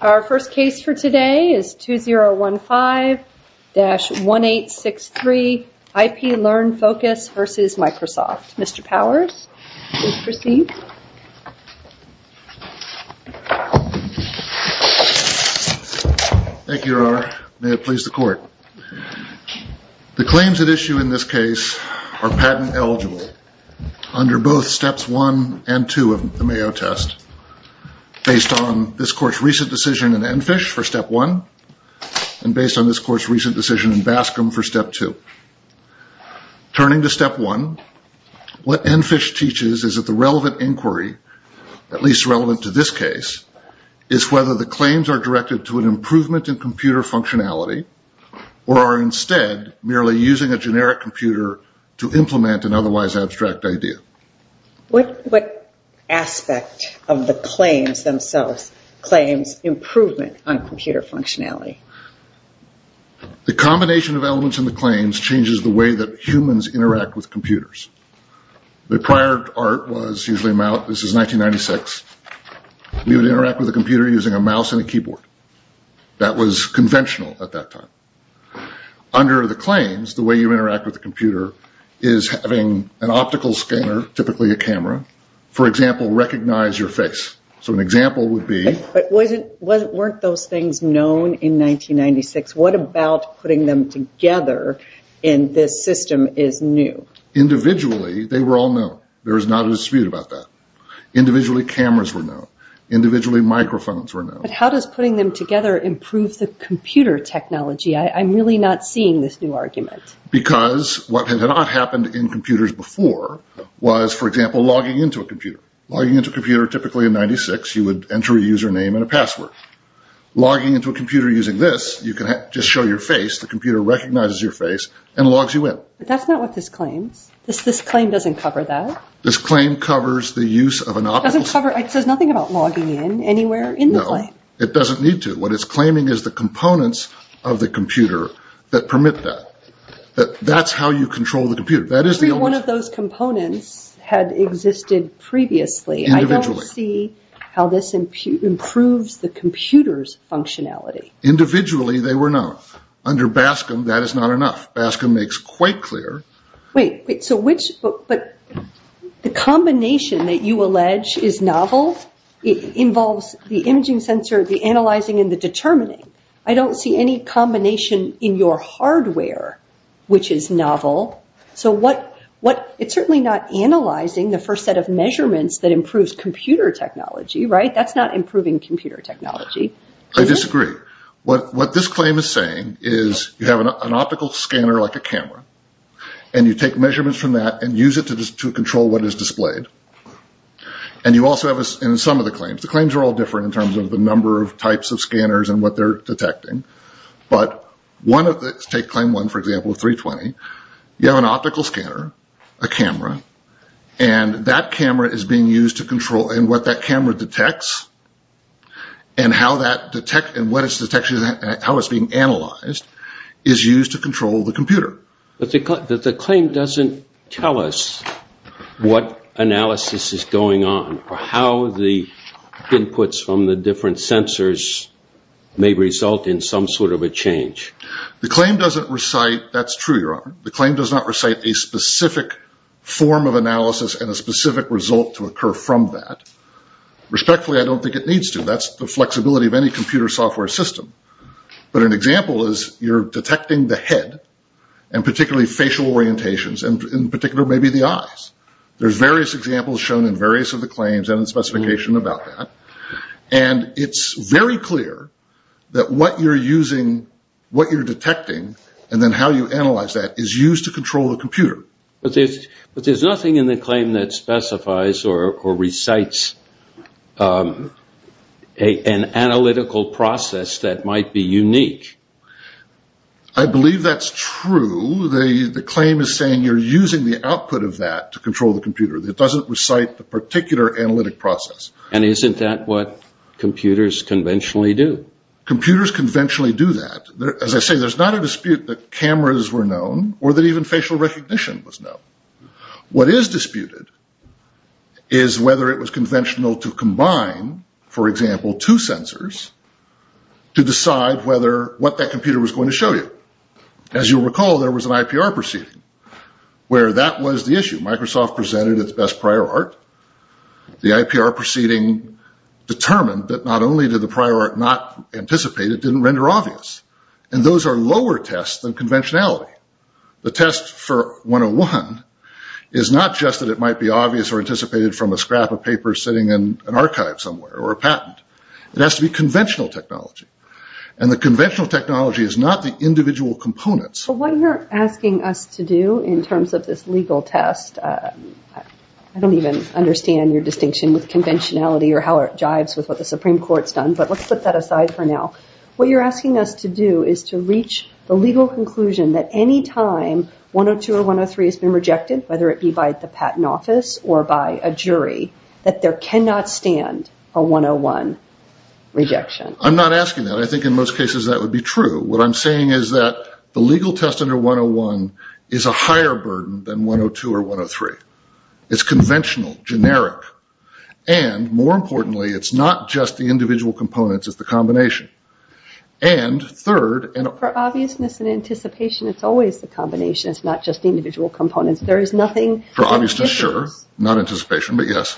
Our first case for today is 2015-1863 IPLearn-Focus v. Microsoft. Mr. Powers, please proceed. Thank you, Your Honor. May it please the Court. The claims at issue in this case are patent eligible under both steps 1 and 2 of the Mayo test, based on this Court's recent decision in Enfish for step 1 and based on this Court's recent decision in Bascom for step 2. Turning to step 1, what Enfish teaches is that the relevant inquiry, at least relevant to this case, is whether the claims are directed to an improvement in computer functionality or are instead merely using a generic computer to implement an otherwise abstract idea. What aspect of the claims themselves claims improvement on computer functionality? The combination of elements in the claims changes the way that humans interact with computers. The prior art was usually, this is 1996, you would interact with a computer using a mouse and a keyboard. That was conventional at that time. Under the claims, the way you interact with a computer is having an optical scanner, typically a camera, for example, recognize your face. So an example would be... But weren't those things known in 1996? What about putting them together in this system is new? Individually, they were all known. There is not a dispute about that. Individually, cameras were known. Individually, microphones were known. But how does putting them together improve the computer technology? I'm really not seeing this new argument. Because what had not happened in computers before was, for example, logging into a computer. Logging into a computer, typically in 1996, you would enter a username and a password. Logging into a computer using this, you can just show your face. The computer recognizes your face and logs you in. But that's not what this claims. This claim doesn't cover that. This claim covers the use of an optical scanner. It doesn't cover, it says nothing about logging in anywhere in the claim. No. It doesn't need to. What it's claiming is the components of the computer that permit that. That's how you control the computer. That is the only... Every one of those components had existed previously. Individually. I don't see how this improves the computer's functionality. Individually, they were known. Under BASCM, that is not enough. BASCM makes quite clear... Wait. The combination that you allege is novel involves the imaging sensor, the analyzing, and the determining. I don't see any combination in your hardware which is novel. It's certainly not analyzing the first set of measurements that improves computer technology. That's not improving computer technology. I disagree. What this claim is you have an optical scanner like a camera. You take measurements from that and use it to control what is displayed. You also have... In some of the claims. The claims are all different in terms of the number of types of scanners and what they're detecting. Take claim one, for example, 320. You have an optical scanner, a camera. That camera is being used to control what that camera detects and how that detects and what its detection... How it's being analyzed and how it's being analyzed is used to control the computer. The claim doesn't tell us what analysis is going on or how the inputs from the different sensors may result in some sort of a change. The claim doesn't recite... That's true, Your Honor. The claim does not recite a specific form of analysis and a specific result to occur from that. Respectfully, I don't think it needs to. That's the flexibility of any computer software system. But an example is you're detecting the head and particularly facial orientations and in particular maybe the eyes. There's various examples shown in various of the claims and the specification about that. And it's very clear that what you're using, what you're detecting and then how you analyze that is used to control the computer. But there's nothing in the claim that specifies or recites the analytical process that might be unique. I believe that's true. The claim is saying you're using the output of that to control the computer. It doesn't recite the particular analytic process. And isn't that what computers conventionally do? Computers conventionally do that. As I say, there's not a dispute that cameras were known or that even facial recognition was known. What is disputed is whether it was conventional to combine, for example, a computer with a computer with, for example, two sensors to decide what that computer was going to show you. As you recall, there was an IPR proceeding where that was the issue. Microsoft presented its best prior art. The IPR proceeding determined that not only did the prior art not anticipate, it didn't render obvious. And those are lower tests than conventionality. The test for 101 is not just that it might be obvious or anticipated from a scrap of paper sitting in an archive somewhere or a patent. It has to be conventional technology. And the conventional technology is not the individual components. What you're asking us to do in terms of this legal test, I don't even understand your distinction with conventionality or how it jives with what the Supreme Court's done, but let's put that aside for now. What you're asking us to do is to reach the legal conclusion that any time 102 or 103 has been rejected, whether it be by the patent office or by a jury, that there cannot stand a 101 rejection. I'm not asking that. I think in most cases that would be true. What I'm saying is that the legal test under 101 is a higher burden than 102 or 103. It's conventional, generic, and more importantly, it's not just the individual components. It's the combination. For obviousness and anticipation, it's always the combination. It's not just the individual components. There is nothing... For obviousness, sure. Not anticipation, but yes.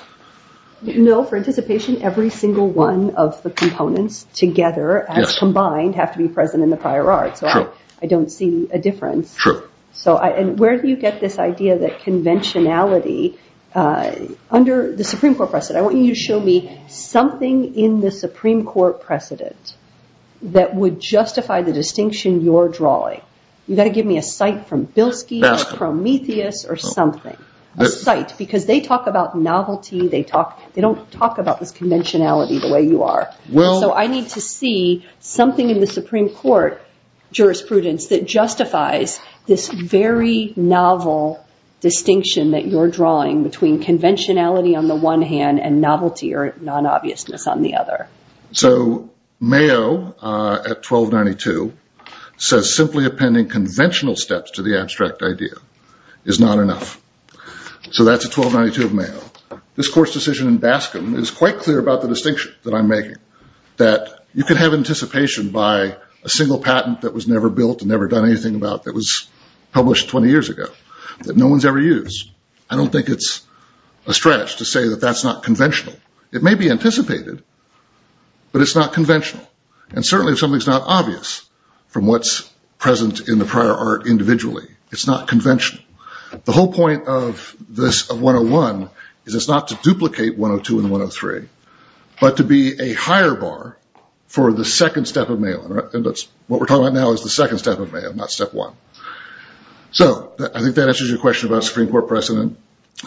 No, for anticipation, every single one of the components together as combined have to be present in the prior art. I don't see a difference. Where do you get this idea that conventionality, under the Supreme Court precedent, I want you to show me something in the Supreme Court that is obvious or something, a sight, because they talk about novelty. They don't talk about this conventionality the way you are. I need to see something in the Supreme Court jurisprudence that justifies this very novel distinction that you're drawing between conventionality on the one hand and novelty or non-obviousness on the other. Mayo at 1292 says, simply appending conventional steps to the abstract idea is not obvious. So that's a 1292 of Mayo. This court's decision in Bascom is quite clear about the distinction that I'm making, that you can have anticipation by a single patent that was never built and never done anything about that was published 20 years ago that no one has ever used. I don't think it's a stretch to say that that's not conventional. It may be anticipated, but it's not conventional. And certainly if something's not obvious from what's present in the prior art individually, it's not conventional. The whole point of this 101 is not to duplicate 102 and 103, but to be a higher bar for the second step of Mayo. What we're talking about now is the second step of Mayo, not step one. So I think that answers your question about Supreme Court precedent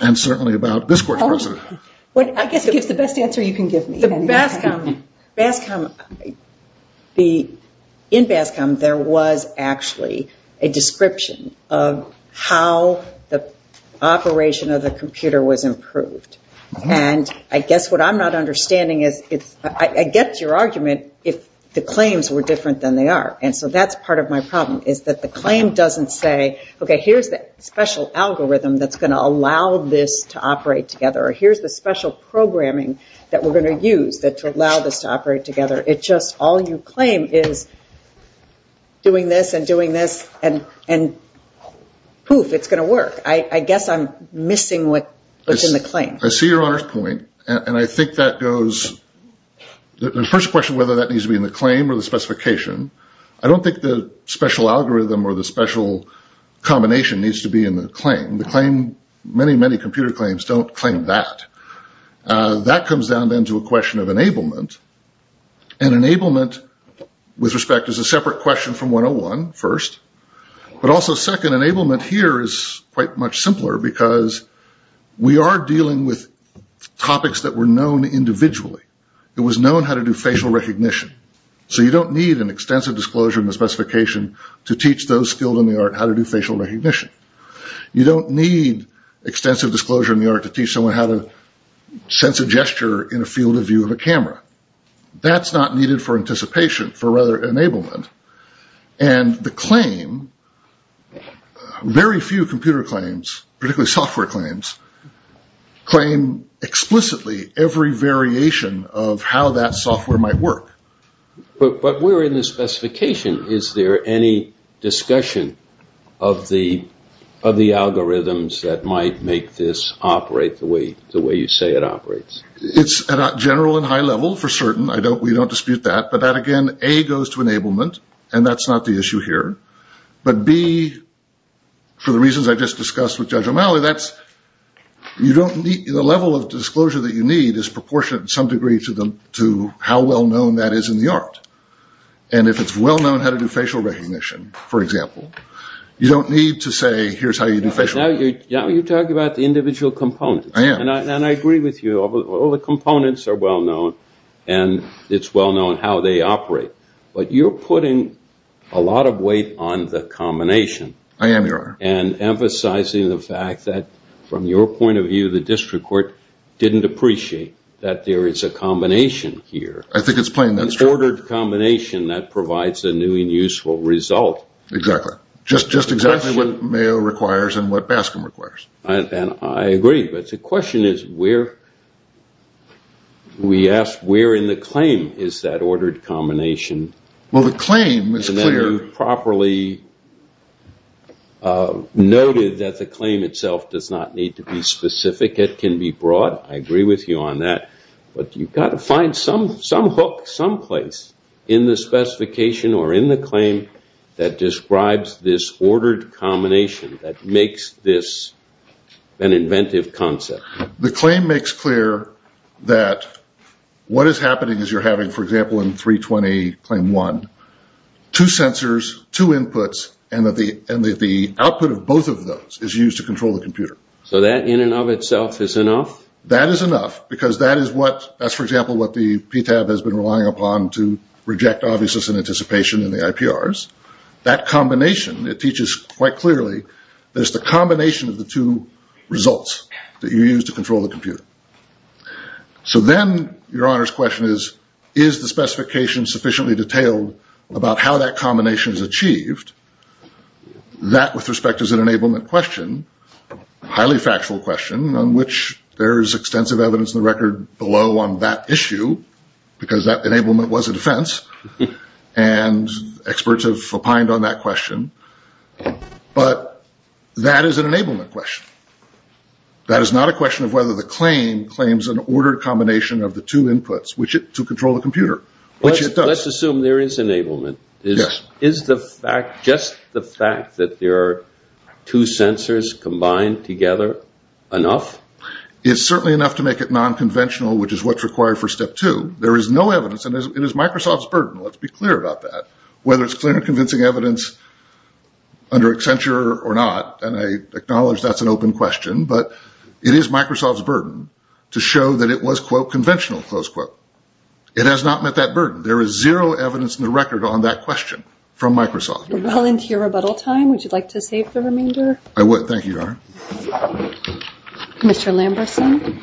and certainly about this court's precedent. I guess it gives the best answer you can give me. In Bascom there was actually a description of how the operation of the computer was improved. And I guess what I'm not understanding is I get your argument if the claims were different than they are. And so that's part of my problem is that the claim doesn't say, okay, here's that special algorithm that's going to allow this to operate together. Here's the special programming that we're going to use to allow this to operate together. It's just all you claim is doing this and doing this, and poof, it's going to work. I guess I'm missing what's in the claim. I see your point, and I think that goes, the first question whether that needs to be in the claim or the specification, I don't think the special algorithm or the special combination needs to be in the claim. Many, many computer claims don't claim that. That comes down then to a question of enablement, and enablement with respect is a separate question from 101, first. But also second, enablement here is quite much simpler because we are dealing with topics that were known individually. It was known how to do facial recognition. So you don't need an extensive disclosure in the specification to teach those skilled in the art how to do facial recognition. You don't need extensive disclosure in the art to teach someone how to sense a gesture in a field of view of a camera. That's not needed for anticipation, for rather enablement. And the claim, very few computer claims, particularly software claims, claim explicitly every variation of how that software might work. But we're in the specification. Is there any discussion of the algorithms that might make this operate the way you say it operates? It's at a general and high level for certain. We don't dispute that. But that again, A, goes to enablement, and that's not the issue here. But B, for the reasons I just discussed with Judge O'Malley, the level of disclosure that you need is proportionate in some degree to how well-known that is in the art. And if it's well-known how to do facial recognition, for example, you don't need to say, here's how you do facial recognition. Now you're talking about the individual components. And I agree with you, all the components are well-known, and it's well-known how they operate. But you're putting a lot of weight on the combination. I am, Your Honor. And emphasizing the fact that, from your point of view, the district court didn't appreciate that there is a combination here. I think it's plain that's true. An ordered combination that provides a new and useful result. Exactly. Just exactly what Mayo requires and what Baskin requires. And I agree. But the question is, where in the claim is that ordered combination? Well, the claim is clear. It is properly noted that the claim itself does not need to be specific. It can be broad. I agree with you on that. But you've got to find some hook, some place in the specification or in the claim that describes this ordered combination that makes this an inventive concept. The claim makes clear that what is happening is you're having, for example, in 320, claim one, two sensors, two inputs, and the output of both of those is used to control the computer. So that in and of itself is enough? That is enough, because that is what, for example, the PTAB has been relying upon to reject obviousness and anticipation in the IPRs. That combination, it teaches quite clearly that it's the combination of the two results that you're using. And that is what is used to control the computer. So then your Honor's question is, is the specification sufficiently detailed about how that combination is achieved? That, with respect, is an enablement question. Highly factual question on which there is extensive evidence in the record below on that issue, because that enablement was a defense. And experts have opined on that question. But that is an enablement question. That is not a question of whether the claim claims an ordered combination of the two inputs to control the computer, which it does. Let's assume there is enablement. Is just the fact that there are two sensors combined together enough? It's certainly enough to make it non-conventional, which is what's required for step two. There is no evidence, and it is Microsoft's burden, let's be clear about that. Whether it's clear and convincing evidence under Accenture or not, and I acknowledge that's an open question. But it is Microsoft's burden to show that it was, quote, conventional, close quote. It has not met that burden. There is zero evidence in the record on that question from Microsoft. We're well into your rebuttal time. Would you like to save the remainder? I would, thank you. Mr. Lamberson.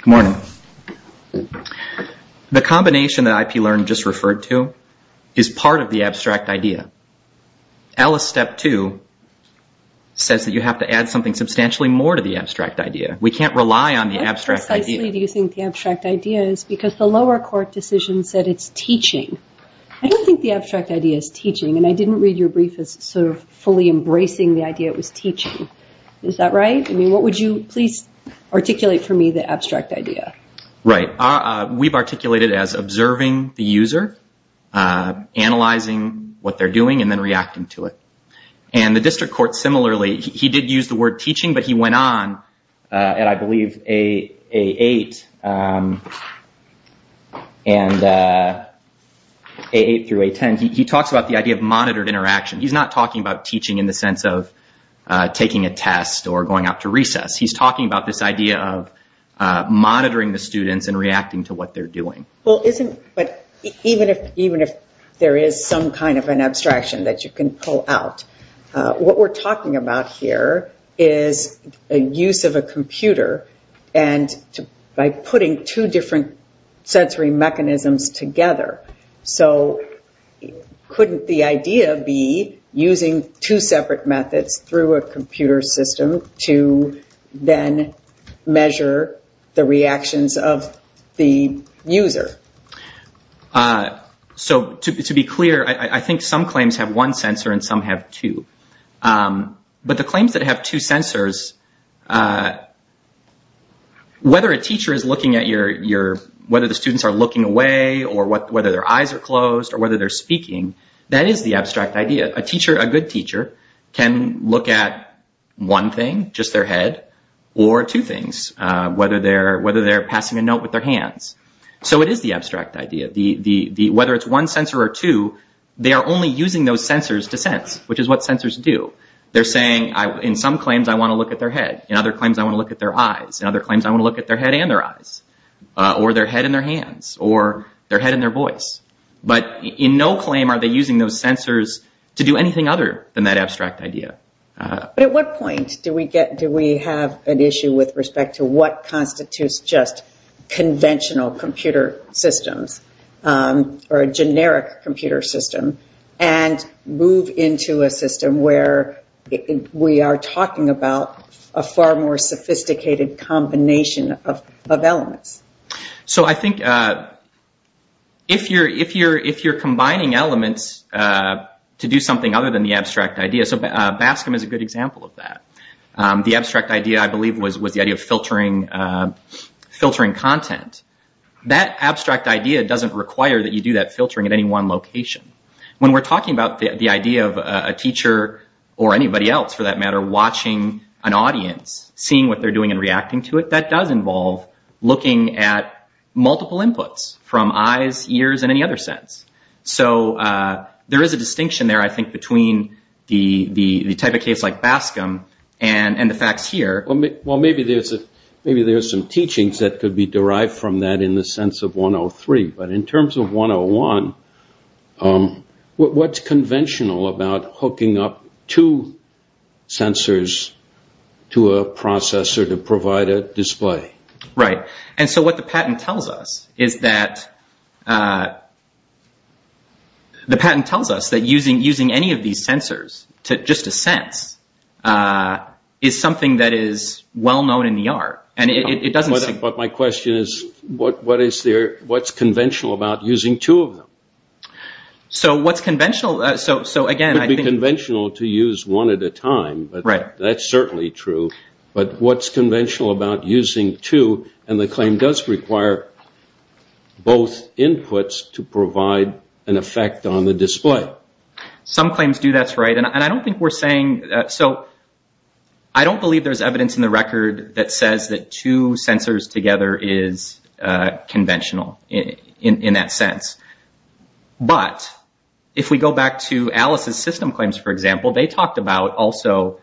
Good morning. The combination that IPLearn just referred to is part of the abstract idea. Alice, step two says that you have to add something substantially more to the abstract idea. We can't rely on the abstract idea. I don't think the abstract idea is teaching, and I didn't read your brief as sort of fully embracing the idea it was teaching. Is that right? I mean, what would you please articulate for me the abstract idea? We've articulated it as observing the user, analyzing what they're doing, and then reacting to it. The district court similarly, he did use the word teaching, but he went on, and I believe A8 through A10, he talks about the idea of monitored interaction. He's talking about this idea of monitoring the students and reacting to what they're doing. Even if there is some kind of an abstraction that you can pull out, what we're talking about here is a use of a computer and by putting two different sensory mechanisms together. So couldn't the idea be using two separate methods through a computer system to monitor the students? To then measure the reactions of the user? To be clear, I think some claims have one sensor and some have two. But the claims that have two sensors, whether a teacher is looking at your, whether the students are looking away, or whether their eyes are closed, or whether they're speaking, that is the abstract idea. A teacher, a good teacher, can look at one thing, just their head, or two things, whether they're passing a note with their hands. So it is the abstract idea. Whether it's one sensor or two, they are only using those sensors to sense, which is what sensors do. They're saying, in some claims I want to look at their head, in other claims I want to look at their eyes, in other claims I want to look at their head and their eyes, or their head and their hands, or their head and their voice. But in no claim are they using those sensors to do anything other than that abstract idea. But at what point do we have an issue with respect to what constitutes just conventional computer systems? Or a generic computer system? And move into a system where we are talking about a far more sophisticated combination of elements. So I think if you're combining elements to do something other than the abstract idea, so BASCM is a good example of that. The abstract idea, I believe, was the idea of filtering content. That abstract idea doesn't require that you do that filtering at any one location. When we're talking about the idea of a teacher, or anybody else for that matter, watching an audience, seeing what they're doing and reacting to it, that does involve looking at multiple inputs from eyes, ears, and any other sense. So there is a distinction there, I think, between the type of case like BASCM and the facts here. Well, maybe there's some teachings that could be derived from that in the sense of 103. But in terms of 101, what's conventional about hooking up two sensors to a processor to provide a display? Right. And so what the patent tells us is that... The patent tells us that using any of these sensors to just a sense is something that is well known in the art. But my question is, what's conventional about using two of them? It would be conventional to use one at a time, but that's certainly true. But what's conventional about using two? And the claim does require both inputs to provide an effect on the display. Some claims do, that's right. I don't believe there's evidence in the record that says that two sensors together is conventional in that sense. But if we go back to Alice's system claims, for example, they talked about also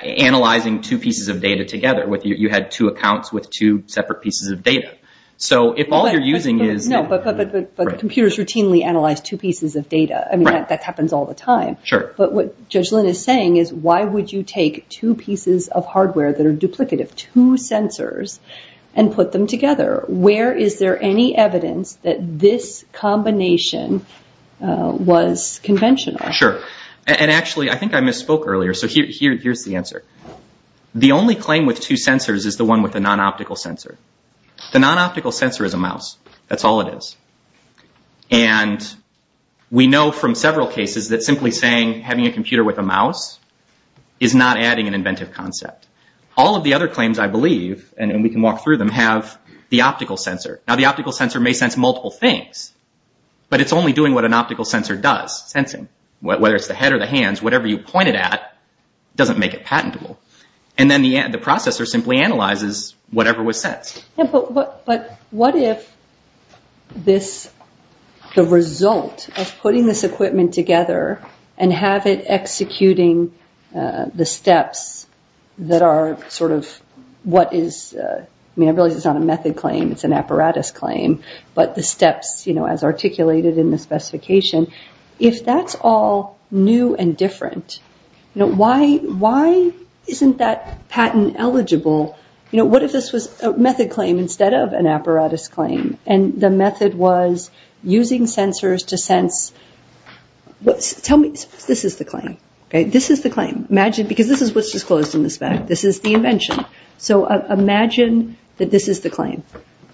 analyzing two pieces of data together. You had two accounts with two separate pieces of data. So if all you're using is... No, but computers routinely analyze two pieces of data. I mean, that happens all the time. But what Judge Lynn is saying is, why would you take two pieces of hardware that are duplicative, two sensors, and put them together? Where is there any evidence that this combination was conventional? Sure. And actually, I think I misspoke earlier. So here's the answer. The only claim with two sensors is the one with the non-optical sensor. The non-optical sensor is a mouse. That's all it is. And we know from several cases that simply saying, having a computer with a mouse, is not adding an inventive concept. All of the other claims, I believe, and we can walk through them, have the optical sensor. Now the optical sensor may sense multiple things, but it's only doing what an optical sensor does, sensing. Whether it's the head or the hands, whatever you point it at doesn't make it patentable. And then the processor simply analyzes whatever was sensed. But what if the result of putting this equipment together and have it executing the steps that are sort of what is... an apparatus claim, but the steps as articulated in the specification, if that's all new and different, why isn't that patent eligible? What if this was a method claim instead of an apparatus claim? And the method was using sensors to sense... This is the claim. Because this is what's disclosed in the spec. This is the invention. So imagine that this is the claim.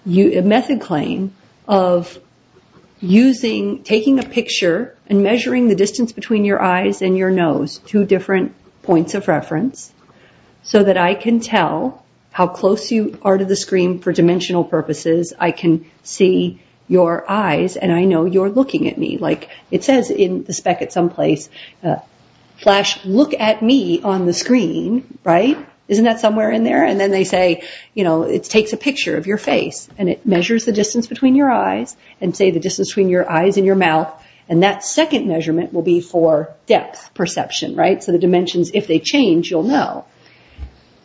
A method claim of taking a picture and measuring the distance between your eyes and your nose, two different points of reference, so that I can tell how close you are to the screen for dimensional purposes. I can see your eyes and I know you're looking at me. It says in the spec at some place, look at me on the screen. Isn't that somewhere in there? And then they say it takes a picture of your face and it measures the distance between your eyes and that second measurement will be for depth perception. So the dimensions, if they change, you'll know.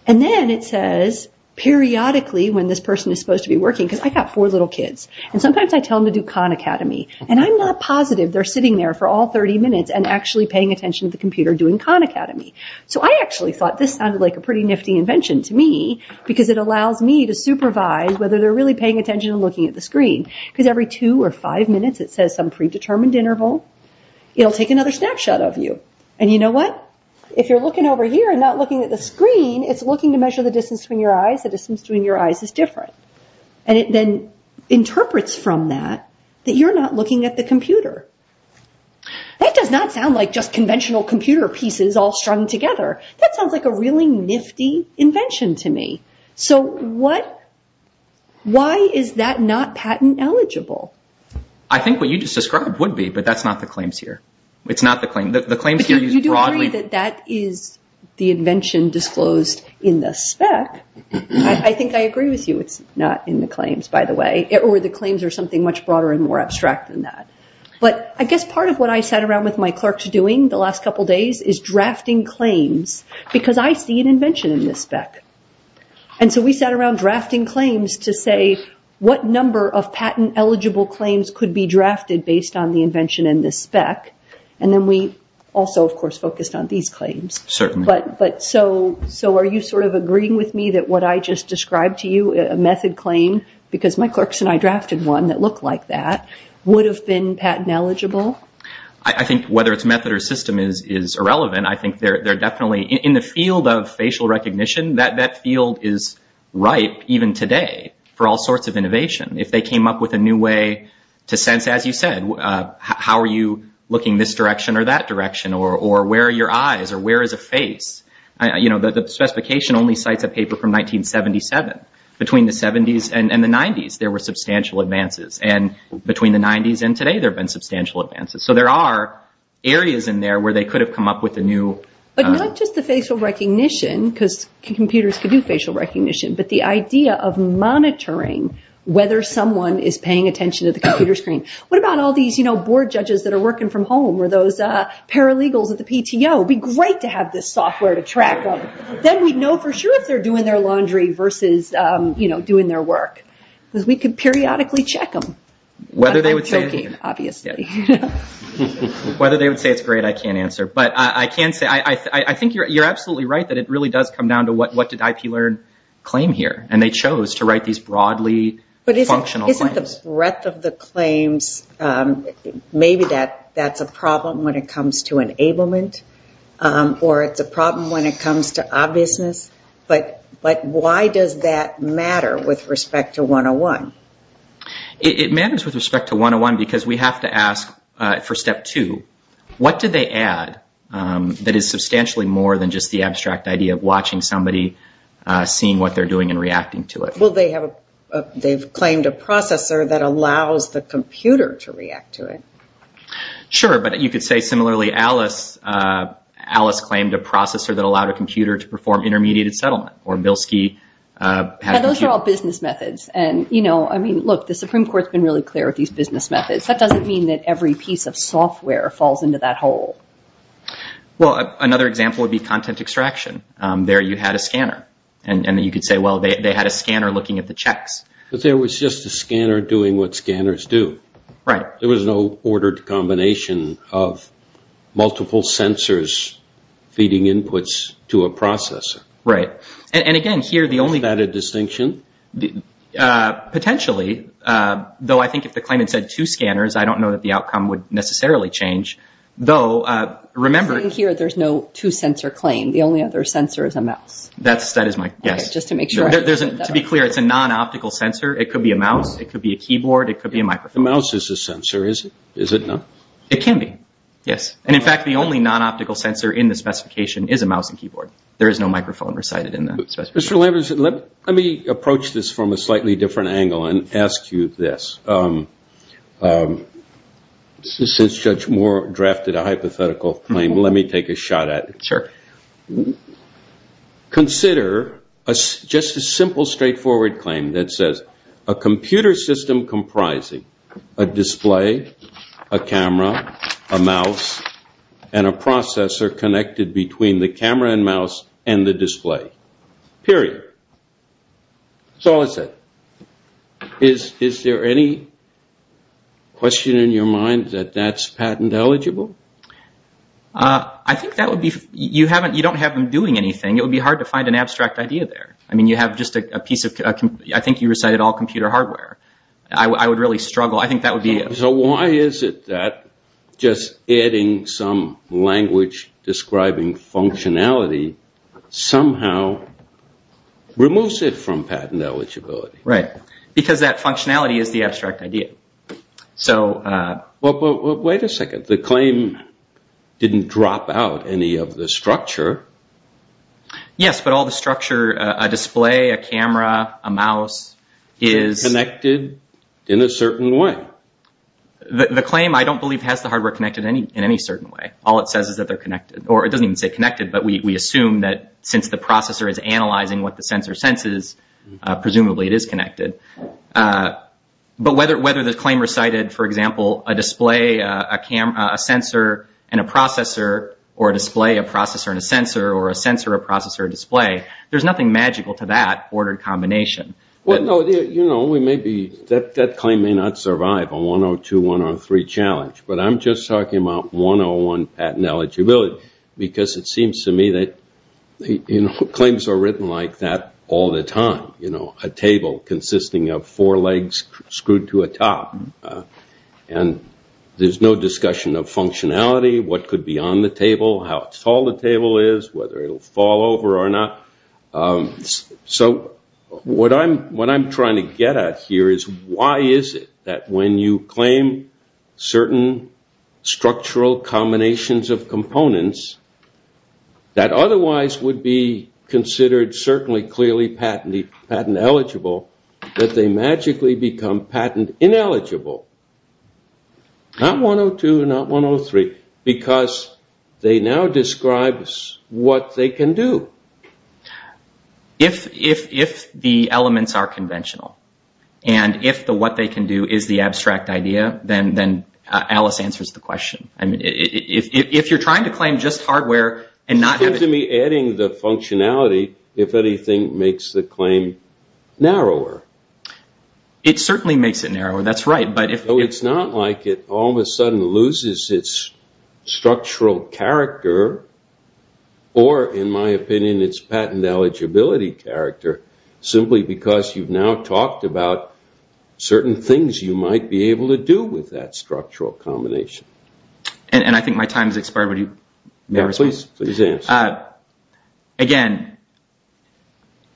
And then it says periodically when this person is supposed to be working, because I've got four little kids, and sometimes I tell them to do Khan Academy. And I'm not positive they're sitting there for all 30 minutes and actually paying attention to the computer doing Khan Academy. So I actually thought this sounded like a pretty nifty invention to me, because it allows me to supervise whether they're really paying attention and looking at the screen. Because every two or five minutes it says some predetermined interval, it'll take another snapshot of you. And you know what, if you're looking over here and not looking at the screen, it's looking to measure the distance between your eyes, the distance between your eyes is different. And it then interprets from that that you're not looking at the computer. That does not sound like just conventional computer pieces all strung together. That sounds like a really nifty invention to me. So why is that not patent eligible? I think what you just described would be, but that's not the claims here. You do agree that that is the invention disclosed in the spec. I think I agree with you it's not in the claims, by the way. The claims are something much broader and more abstract than that. But I guess part of what I sat around with my clerks doing the last couple days is drafting claims, because I see an invention in this spec. And so we sat around drafting claims to say what number of patent eligible claims could be drafted based on the invention in this spec. And then we also, of course, focused on these claims. So are you sort of agreeing with me that what I just described to you, a method claim, because my clerks and I drafted one that looked like that, would have been patent eligible? I think whether it's method or system is irrelevant. In the field of facial recognition, that field is ripe even today for all sorts of innovation. If they came up with a new way to sense, as you said, how are you looking this direction or that direction, or where are your eyes or where is a face? The specification only cites a paper from 1977. Between the 70s and the 90s there were substantial advances. And between the 90s and today there have been substantial advances. So there are areas in there where they could have come up with a new... It would be great to have this software to track them. Then we'd know for sure if they're doing their laundry versus doing their work. Because we could periodically check them. Whether they would say it's great, I can't answer. But I think you're absolutely right that it really does come down to what did IP learn claim here. And they chose to write these broadly functional claims. Isn't the breadth of the claims, maybe that's a problem when it comes to enablement? Or it's a problem when it comes to obviousness? But why does that matter with respect to 101? It matters with respect to 101 because we have to ask for step two. What did they add that is substantially more than just the abstract idea of watching somebody seeing what they're doing and reacting to it? They've claimed a processor that allows the computer to react to it. Sure, but you could say similarly Alice claimed a processor that allowed a computer to perform intermediate settlement. Those are all business methods. The Supreme Court has been really clear with these business methods. That doesn't mean that every piece of software falls into that hole. Another example would be content extraction. There you had a scanner and you could say they had a scanner looking at the checks. But there was just a scanner doing what scanners do. There was no ordered combination of multiple sensors feeding inputs to a processor. And again, here the only added distinction, potentially, though I think if the claim had said two scanners, I don't know that the outcome would necessarily change. Here there's no two sensor claim. The only other sensor is a mouse. To be clear, it's a non-optical sensor. It could be a mouse, it could be a keyboard, it could be a microphone. The mouse is a sensor, is it not? It can be. Yes, and in fact the only non-optical sensor in the specification is a mouse and keyboard. There is no microphone recited in the specification. Let me approach this from a slightly different angle and ask you this. Since Judge Moore drafted a hypothetical claim, let me take a shot at it. Consider just a simple straightforward claim that says, a computer system comprising a display, a camera, a mouse, and a processor connected between the camera and mouse and the display. Period. Is there any question in your mind that that's patent eligible? I think that would be, you don't have them doing anything. It would be hard to find an abstract idea there. I think you recited all computer hardware. Why is it that just adding some language describing functionality somehow removes it from patent eligibility? Because that functionality is the abstract idea. Wait a second. The claim didn't drop out any of the structure. Yes, but all the structure, a display, a camera, a mouse is... Connected in a certain way. The claim I don't believe has the hardware connected in any certain way. All it says is that they're connected, or it doesn't even say connected, but we assume that since the processor is analyzing what the sensor senses, presumably it is connected. But whether the claim recited, for example, a display, a sensor, and a processor, or a display, a processor, and a sensor, or a sensor, a processor, a display, there's nothing magical to that ordered combination. That claim may not survive a 102, 103 challenge, but I'm just talking about 101 patent eligibility because it seems to me that claims are written like that all the time. A table consisting of four legs screwed to a top. There's no discussion of functionality, what could be on the table, how tall the table is, whether it will fall over or not. What I'm trying to get at here is why is it that when you claim certain structural combinations of components that otherwise would be considered certainly clearly patent eligible, that they magically become patent ineligible? Not 102, not 103, because they now describe what they can do. If the elements are conventional, and if the what they can do is the abstract idea, then Alice answers the question. If you're trying to claim just hardware and not having... It seems to me adding the functionality, if anything, makes the claim narrower. It certainly makes it narrower, that's right. It's not like it all of a sudden loses its structural character, or in my opinion its patent eligibility character, simply because you've now talked about certain things you might be able to do with that structural combination. I think my time has expired. Again,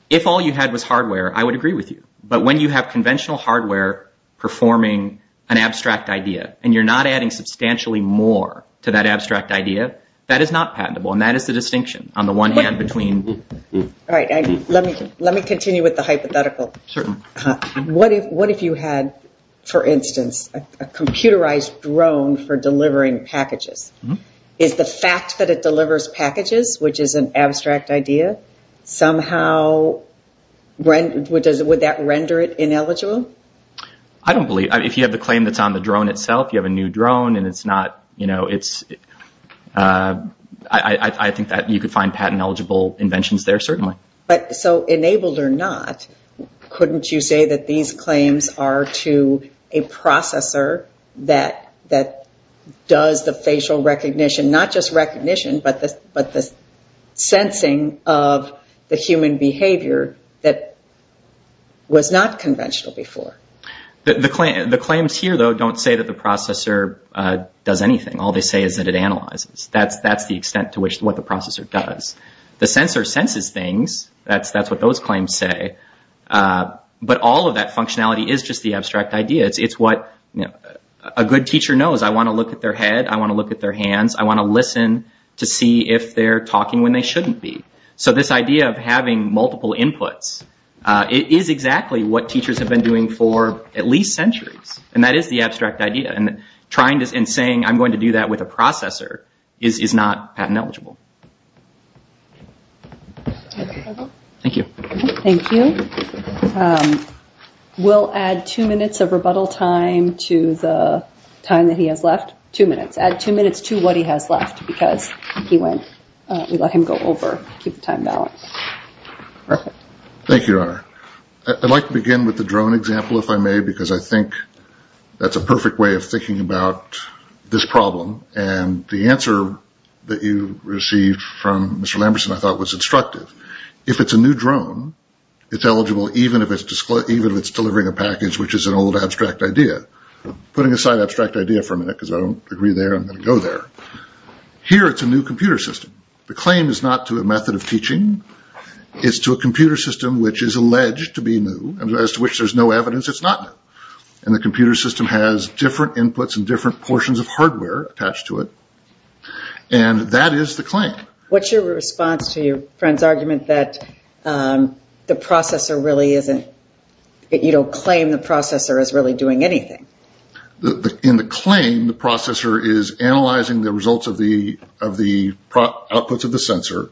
if all you had was hardware, I would agree with you, but when you have conventional hardware performing an abstract idea, and you're not adding substantially more to that abstract idea, that is not patentable, and that is the distinction on the one hand between... Let me continue with the hypothetical. What if you had, for instance, a computerized drone for delivering packages? Is the fact that it delivers packages, which is an abstract idea, somehow would that render it ineligible? I don't believe. If you have the claim that's on the drone itself, you have a new drone, I think that you could find patent eligible inventions there, certainly. Enabled or not, couldn't you say that these claims are to a processor that does the facial recognition, not just recognition, but the sensing of the human behavior that was not conventional before? The claims here, though, don't say that the processor does anything. All they say is that it analyzes. That's the extent to which what the processor does. The sensor senses things. That's what those claims say. But all of that functionality is just the abstract idea. It's what a good teacher knows. I want to look at their head. I want to look at their hands. I want to listen to see if they're talking when they shouldn't be. This idea of having multiple inputs is exactly what teachers have been doing for at least centuries. That is the abstract idea. Saying I'm going to do that with a processor is not patent eligible. Thank you. We'll add two minutes of rebuttal time to the time that he has left. Two minutes. Add two minutes to what he has left because he went. We let him go over to keep the time balance. Thank you, Your Honor. I'd like to begin with the drone example, if I may, because I think that's a perfect way of thinking about this problem. And the answer that you received from Mr. Lamberson, I thought, was instructive. If it's a new drone, it's eligible even if it's delivering a package, which is an old abstract idea. Putting aside abstract idea for a minute because I don't agree there, I'm going to go there. Here it's a new computer system. The claim is not to a method of teaching. It's to a computer system which is alleged to be new, as to which there's no evidence it's not new. And the computer system has different inputs and different portions of hardware attached to it. And that is the claim. What's your response to your friend's argument that the processor really isn't, that you don't claim the processor is really doing anything? In the claim, the processor is analyzing the results of the outputs of the sensor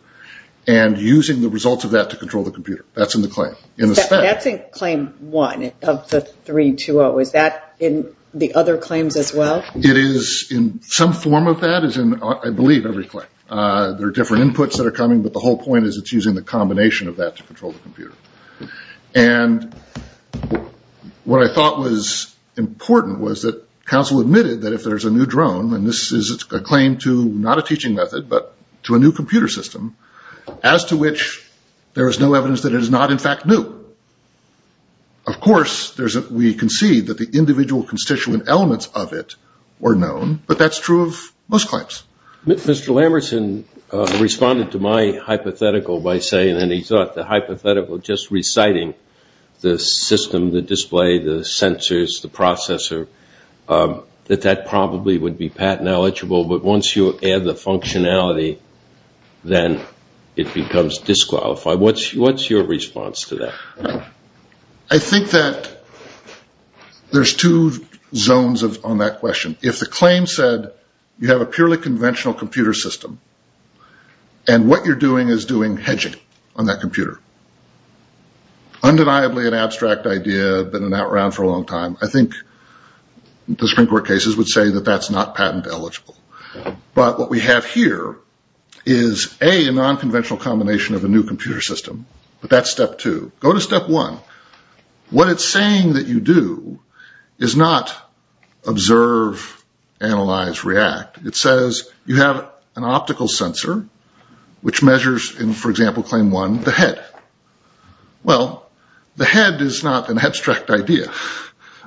and using the results of that to control the computer. That's in the claim. That's in claim one of the 320. Is that in the other claims as well? It is in some form of that, as in, I believe, every claim. There are different inputs that are coming, but the whole point is it's using the combination of that to control the computer. And what I thought was important was that counsel admitted that if there's a new drone, and this is a claim to not a teaching method, but to a new computer system, as to which there is no evidence that it is not, in fact, new. Of course, we concede that the individual constituent elements of it were known, but that's true of most claims. Mr. Lamerson responded to my hypothetical by saying, and he thought the hypothetical just reciting the system, the display, the sensors, the processor, that that probably would be patent eligible, but once you add the functionality, then it becomes disqualified. What's your response to that? I think that there's two zones on that question. If the claim said you have a purely conventional computer system, and what you're doing is doing hedging on that computer. Undeniably an abstract idea, been around for a long time. I think the Supreme Court cases would say that that's not patent eligible. But what we have here is, A, a non-conventional combination of a new computer system, but that's step two. Go to step one. What it's saying that you do is not observe, analyze, react. It says you have an optical sensor, which measures in, for example, claim one, the head. Well, the head is not an abstract idea.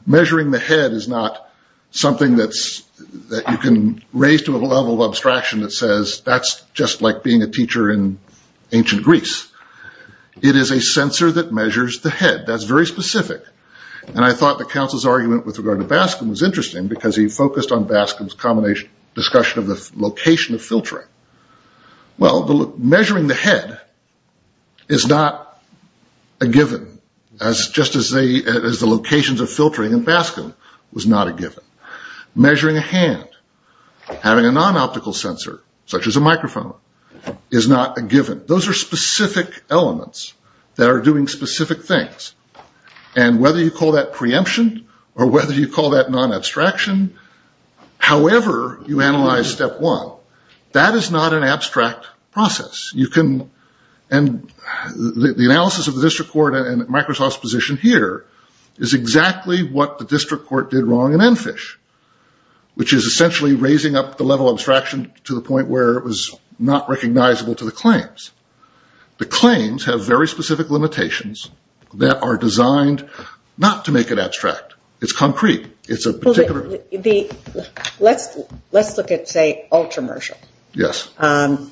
Measuring the head is not something that you can raise to a level of abstraction that says that's just like being a teacher in ancient Greece. It is a sensor that measures the head. That's very specific. And I thought the counsel's argument with regard to Baskin was interesting, because he focused on Baskin's discussion of the location of filtering. Well, measuring the head is not a given, just as the locations of filtering in Baskin was not a given. Measuring a hand, having a non-optical sensor, such as a microphone, is not a given. Those are specific elements that are doing specific things. And whether you call that preemption or whether you call that non-abstraction, however you analyze step one, that is not an abstract process. And the analysis of the district court and Microsoft's position here is exactly what the district court did wrong in Enfish, which is essentially raising up the level of abstraction to the point where it was not recognizable to the claims. The claims have very specific limitations that are designed not to make it abstract. It's concrete. It's a particular... Let's look at, say, Ultramershal,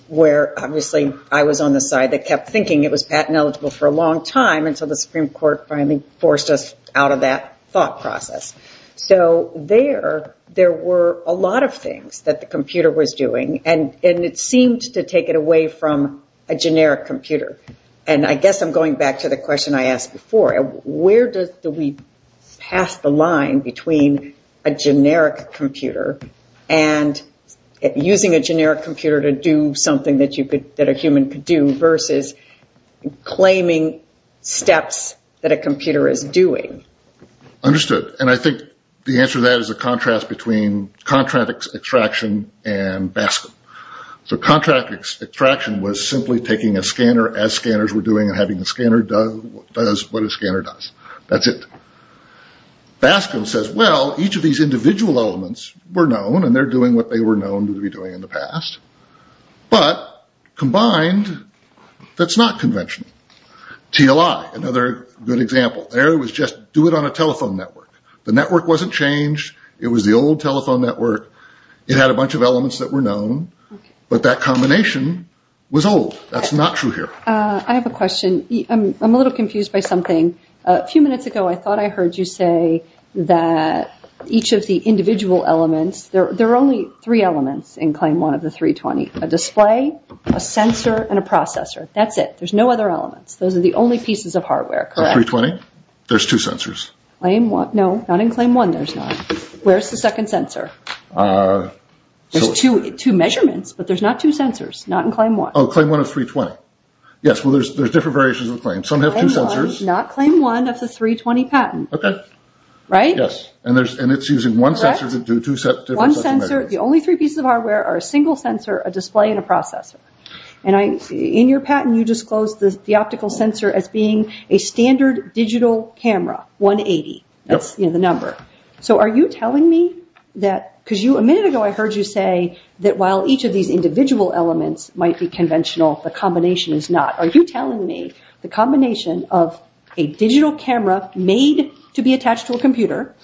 where obviously I was on the side that kept thinking it was patent eligible for a long time until the Supreme Court finally forced us out of that thought process. So there, there were a lot of things that the computer was doing, and it seemed to take it away from a generic computer. And I guess I'm going back to the question I asked before. Where do we pass the line between a generic computer and using a generic computer to do something that a human could do, versus claiming steps that a computer is doing? Understood. And I think the answer to that is a contrast between contract extraction and BASCM. So contract extraction was simply taking a scanner as scanners were doing and having the scanner do what a scanner does. That's it. BASCM says, well, each of these individual elements were known, and they're doing what they were known to be doing in the past. But combined, that's not conventional. TLI, another good example. There it was just, do it on a telephone network. The network wasn't changed. It was the old telephone network. It had a bunch of elements that were known, but that combination was old. That's not true here. I have a question. I'm a little confused by something. A few minutes ago I thought I heard you say that each of the individual elements, there are only three elements in Claim 1 of the 320. A display, a sensor, and a processor. That's it. There's no other elements. Those are the only pieces of hardware, correct? 320? There's two sensors. Where's the second sensor? There's two measurements, but there's not two sensors. Not in Claim 1. Not Claim 1 of the 320 patent. Correct. The only three pieces of hardware are a single sensor, a display, and a processor. In your patent, you disclosed the optical sensor as being a standard digital camera. 180. That's the number. A minute ago I heard you say that while each of these individual elements might be conventional, the combination is not. Are you telling me the combination of a digital camera made to be attached to a computer,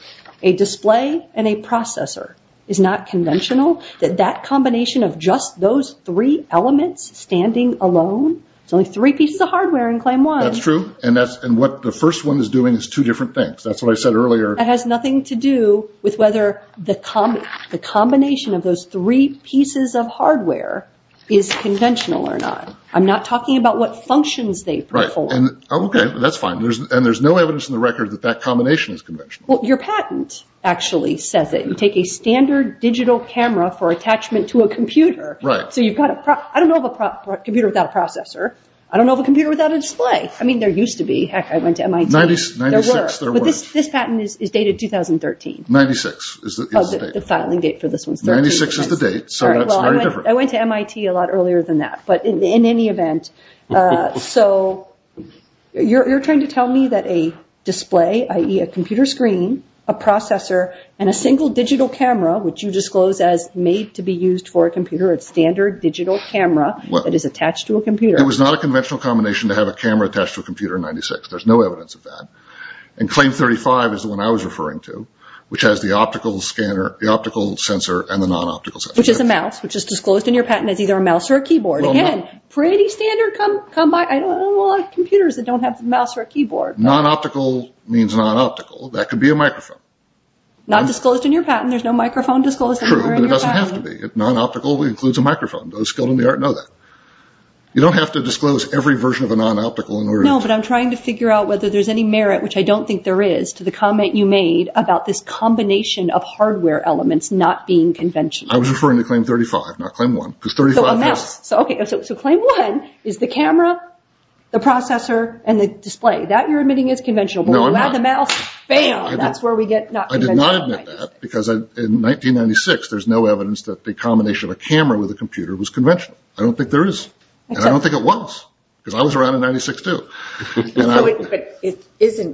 a display, and a processor is not conventional? That that combination of just those three elements standing alone? There's only three pieces of hardware in Claim 1. That's true, and what the first one is doing is two different things. That has nothing to do with whether the combination of those three pieces of hardware is conventional or not. I'm not talking about what functions they perform. That's fine. There's no evidence in the record that that combination is conventional. Your patent actually says that you take a standard digital camera for attachment to a computer. I don't know of a computer without a processor. I don't know of a computer without a display. There used to be. I went to MIT. This patent is dated 2013. 1996 is the date. I went to MIT a lot earlier than that. You're trying to tell me that a display, i.e. a computer screen, a processor, and a single digital camera, which you disclose as made to be used for a computer, a standard digital camera that is attached to a computer. It was not a conventional combination to have a camera attached to a computer in 1996. There's no evidence of that. Claim 35 is the one I was referring to, which has the optical sensor and the non-optical sensor. Which is a mouse, which is disclosed in your patent as either a mouse or a keyboard. Non-optical means non-optical. That could be a microphone. Not disclosed in your patent. There's no microphone disclosed anywhere in your patent. It doesn't have to be. Non-optical includes a microphone. Those skilled in the art know that. You don't have to disclose every version of a non-optical. No, but I'm trying to figure out whether there's any merit, which I don't think there is, to the comment you made about this combination of hardware elements not being conventional. I was referring to Claim 35, not Claim 1. Claim 1 is the camera, the processor, and the display. That you're admitting is conventional. I did not admit that because in 1996 there's no evidence that the combination of a camera with a computer was conventional. I don't think there is, and I don't think it was. Because I was around in 1996 too.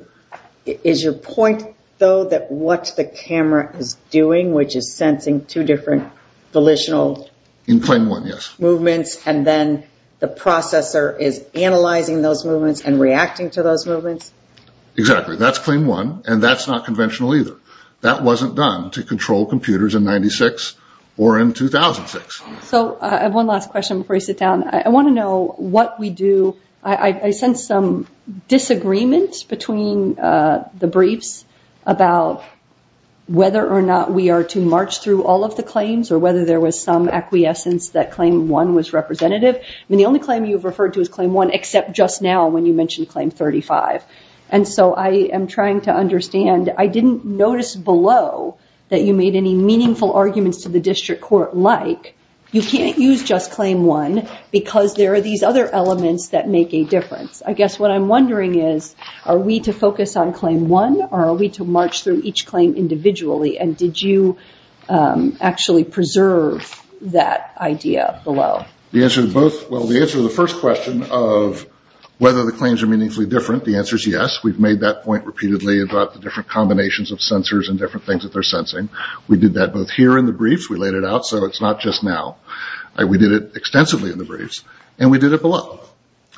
Is your point, though, that what the camera is doing, which is sensing two different volitional movements, and then the processor is analyzing those movements and reacting to those movements? Exactly. That's Claim 1, and that's not conventional either. That wasn't done to control computers in 1996 or in 2006. I have one last question before I sit down. I sense some disagreement between the briefs about whether or not we are to march through all of the claims, or whether there was some acquiescence that Claim 1 was representative. The only claim you've referred to is Claim 1, except just now when you mentioned Claim 35. I am trying to understand. I didn't notice below that you made any meaningful arguments to the district court like, you can't use just Claim 1 because there are these other elements that make a difference. I guess what I'm wondering is, are we to focus on Claim 1, or are we to march through each claim individually? And did you actually preserve that idea below? The answer to the first question of whether the claims are meaningfully different, the answer is yes. We've made that point repeatedly about the different combinations of sensors and different things that they're sensing. We did that both here in the briefs. We laid it out so it's not just now. We did it extensively in the briefs, and we did it below.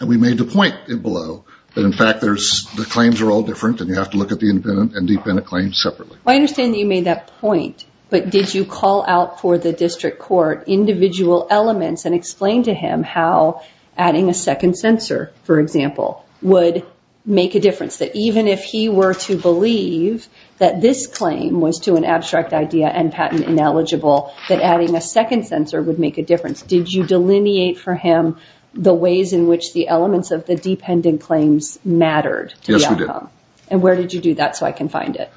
We made the point below that, in fact, the claims are all different, and you have to look at the independent and dependent claims separately. I understand that you made that point, but did you call out for the district court individual elements and explain to him how adding a second sensor, for example, would make a difference, that even if he were to believe that this claim was to an abstract idea and patent ineligible, that adding a second sensor would make a difference? Did you delineate for him the ways in which the elements of the dependent claims mattered to the outcome? Yes, we did. And where did you do that so I can find it?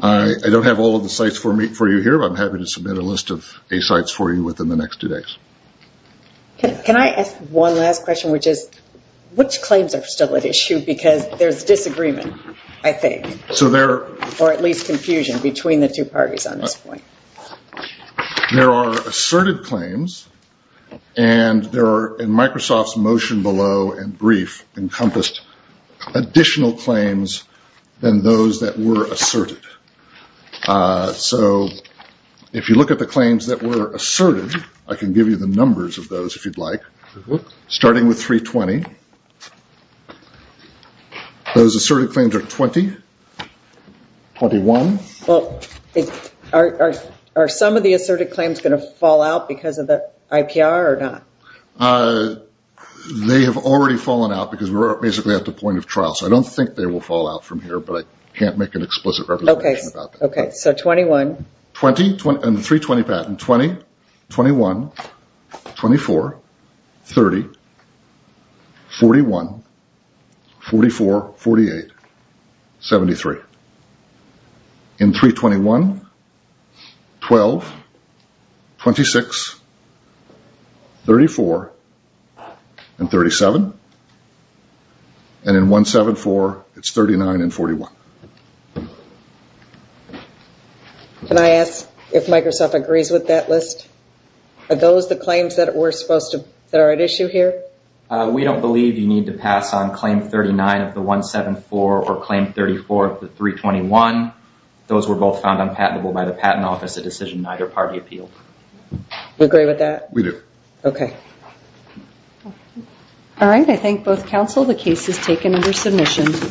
I don't have all of the sites for you here, but I'm happy to submit a list of sites for you within the next two days. Can I ask one last question, which is, which claims are still at issue? Because there's disagreement, I think, or at least confusion between the two parties on this point. There are asserted claims, and there are, in Microsoft's motion below and brief, encompassed additional claims than those that were asserted. So if you look at the claims that were asserted, I can give you the numbers of those if you'd like, starting with 320. Those asserted claims are 20, 21. Well, are some of the asserted claims going to fall out because of the IPR or not? They have already fallen out because we're basically at the point of trial. So I don't think they will fall out from here, but I can't make an explicit representation about that. Okay, so 21. 20, 21, 24, 30, 41, 44, 48, 73. In 321, 12, 26, 34, and 37. And in 174, it's 39 and 41. Can I ask if Microsoft agrees with that list? Are those the claims that are at issue here? We don't believe you need to pass on claim 39 of the 174 or claim 34 of the 321. Those were both found unpatentable by the Patent Office, a decision neither party appealed. You agree with that? We do. Okay. All right, I thank both counsel. The case is taken under submission.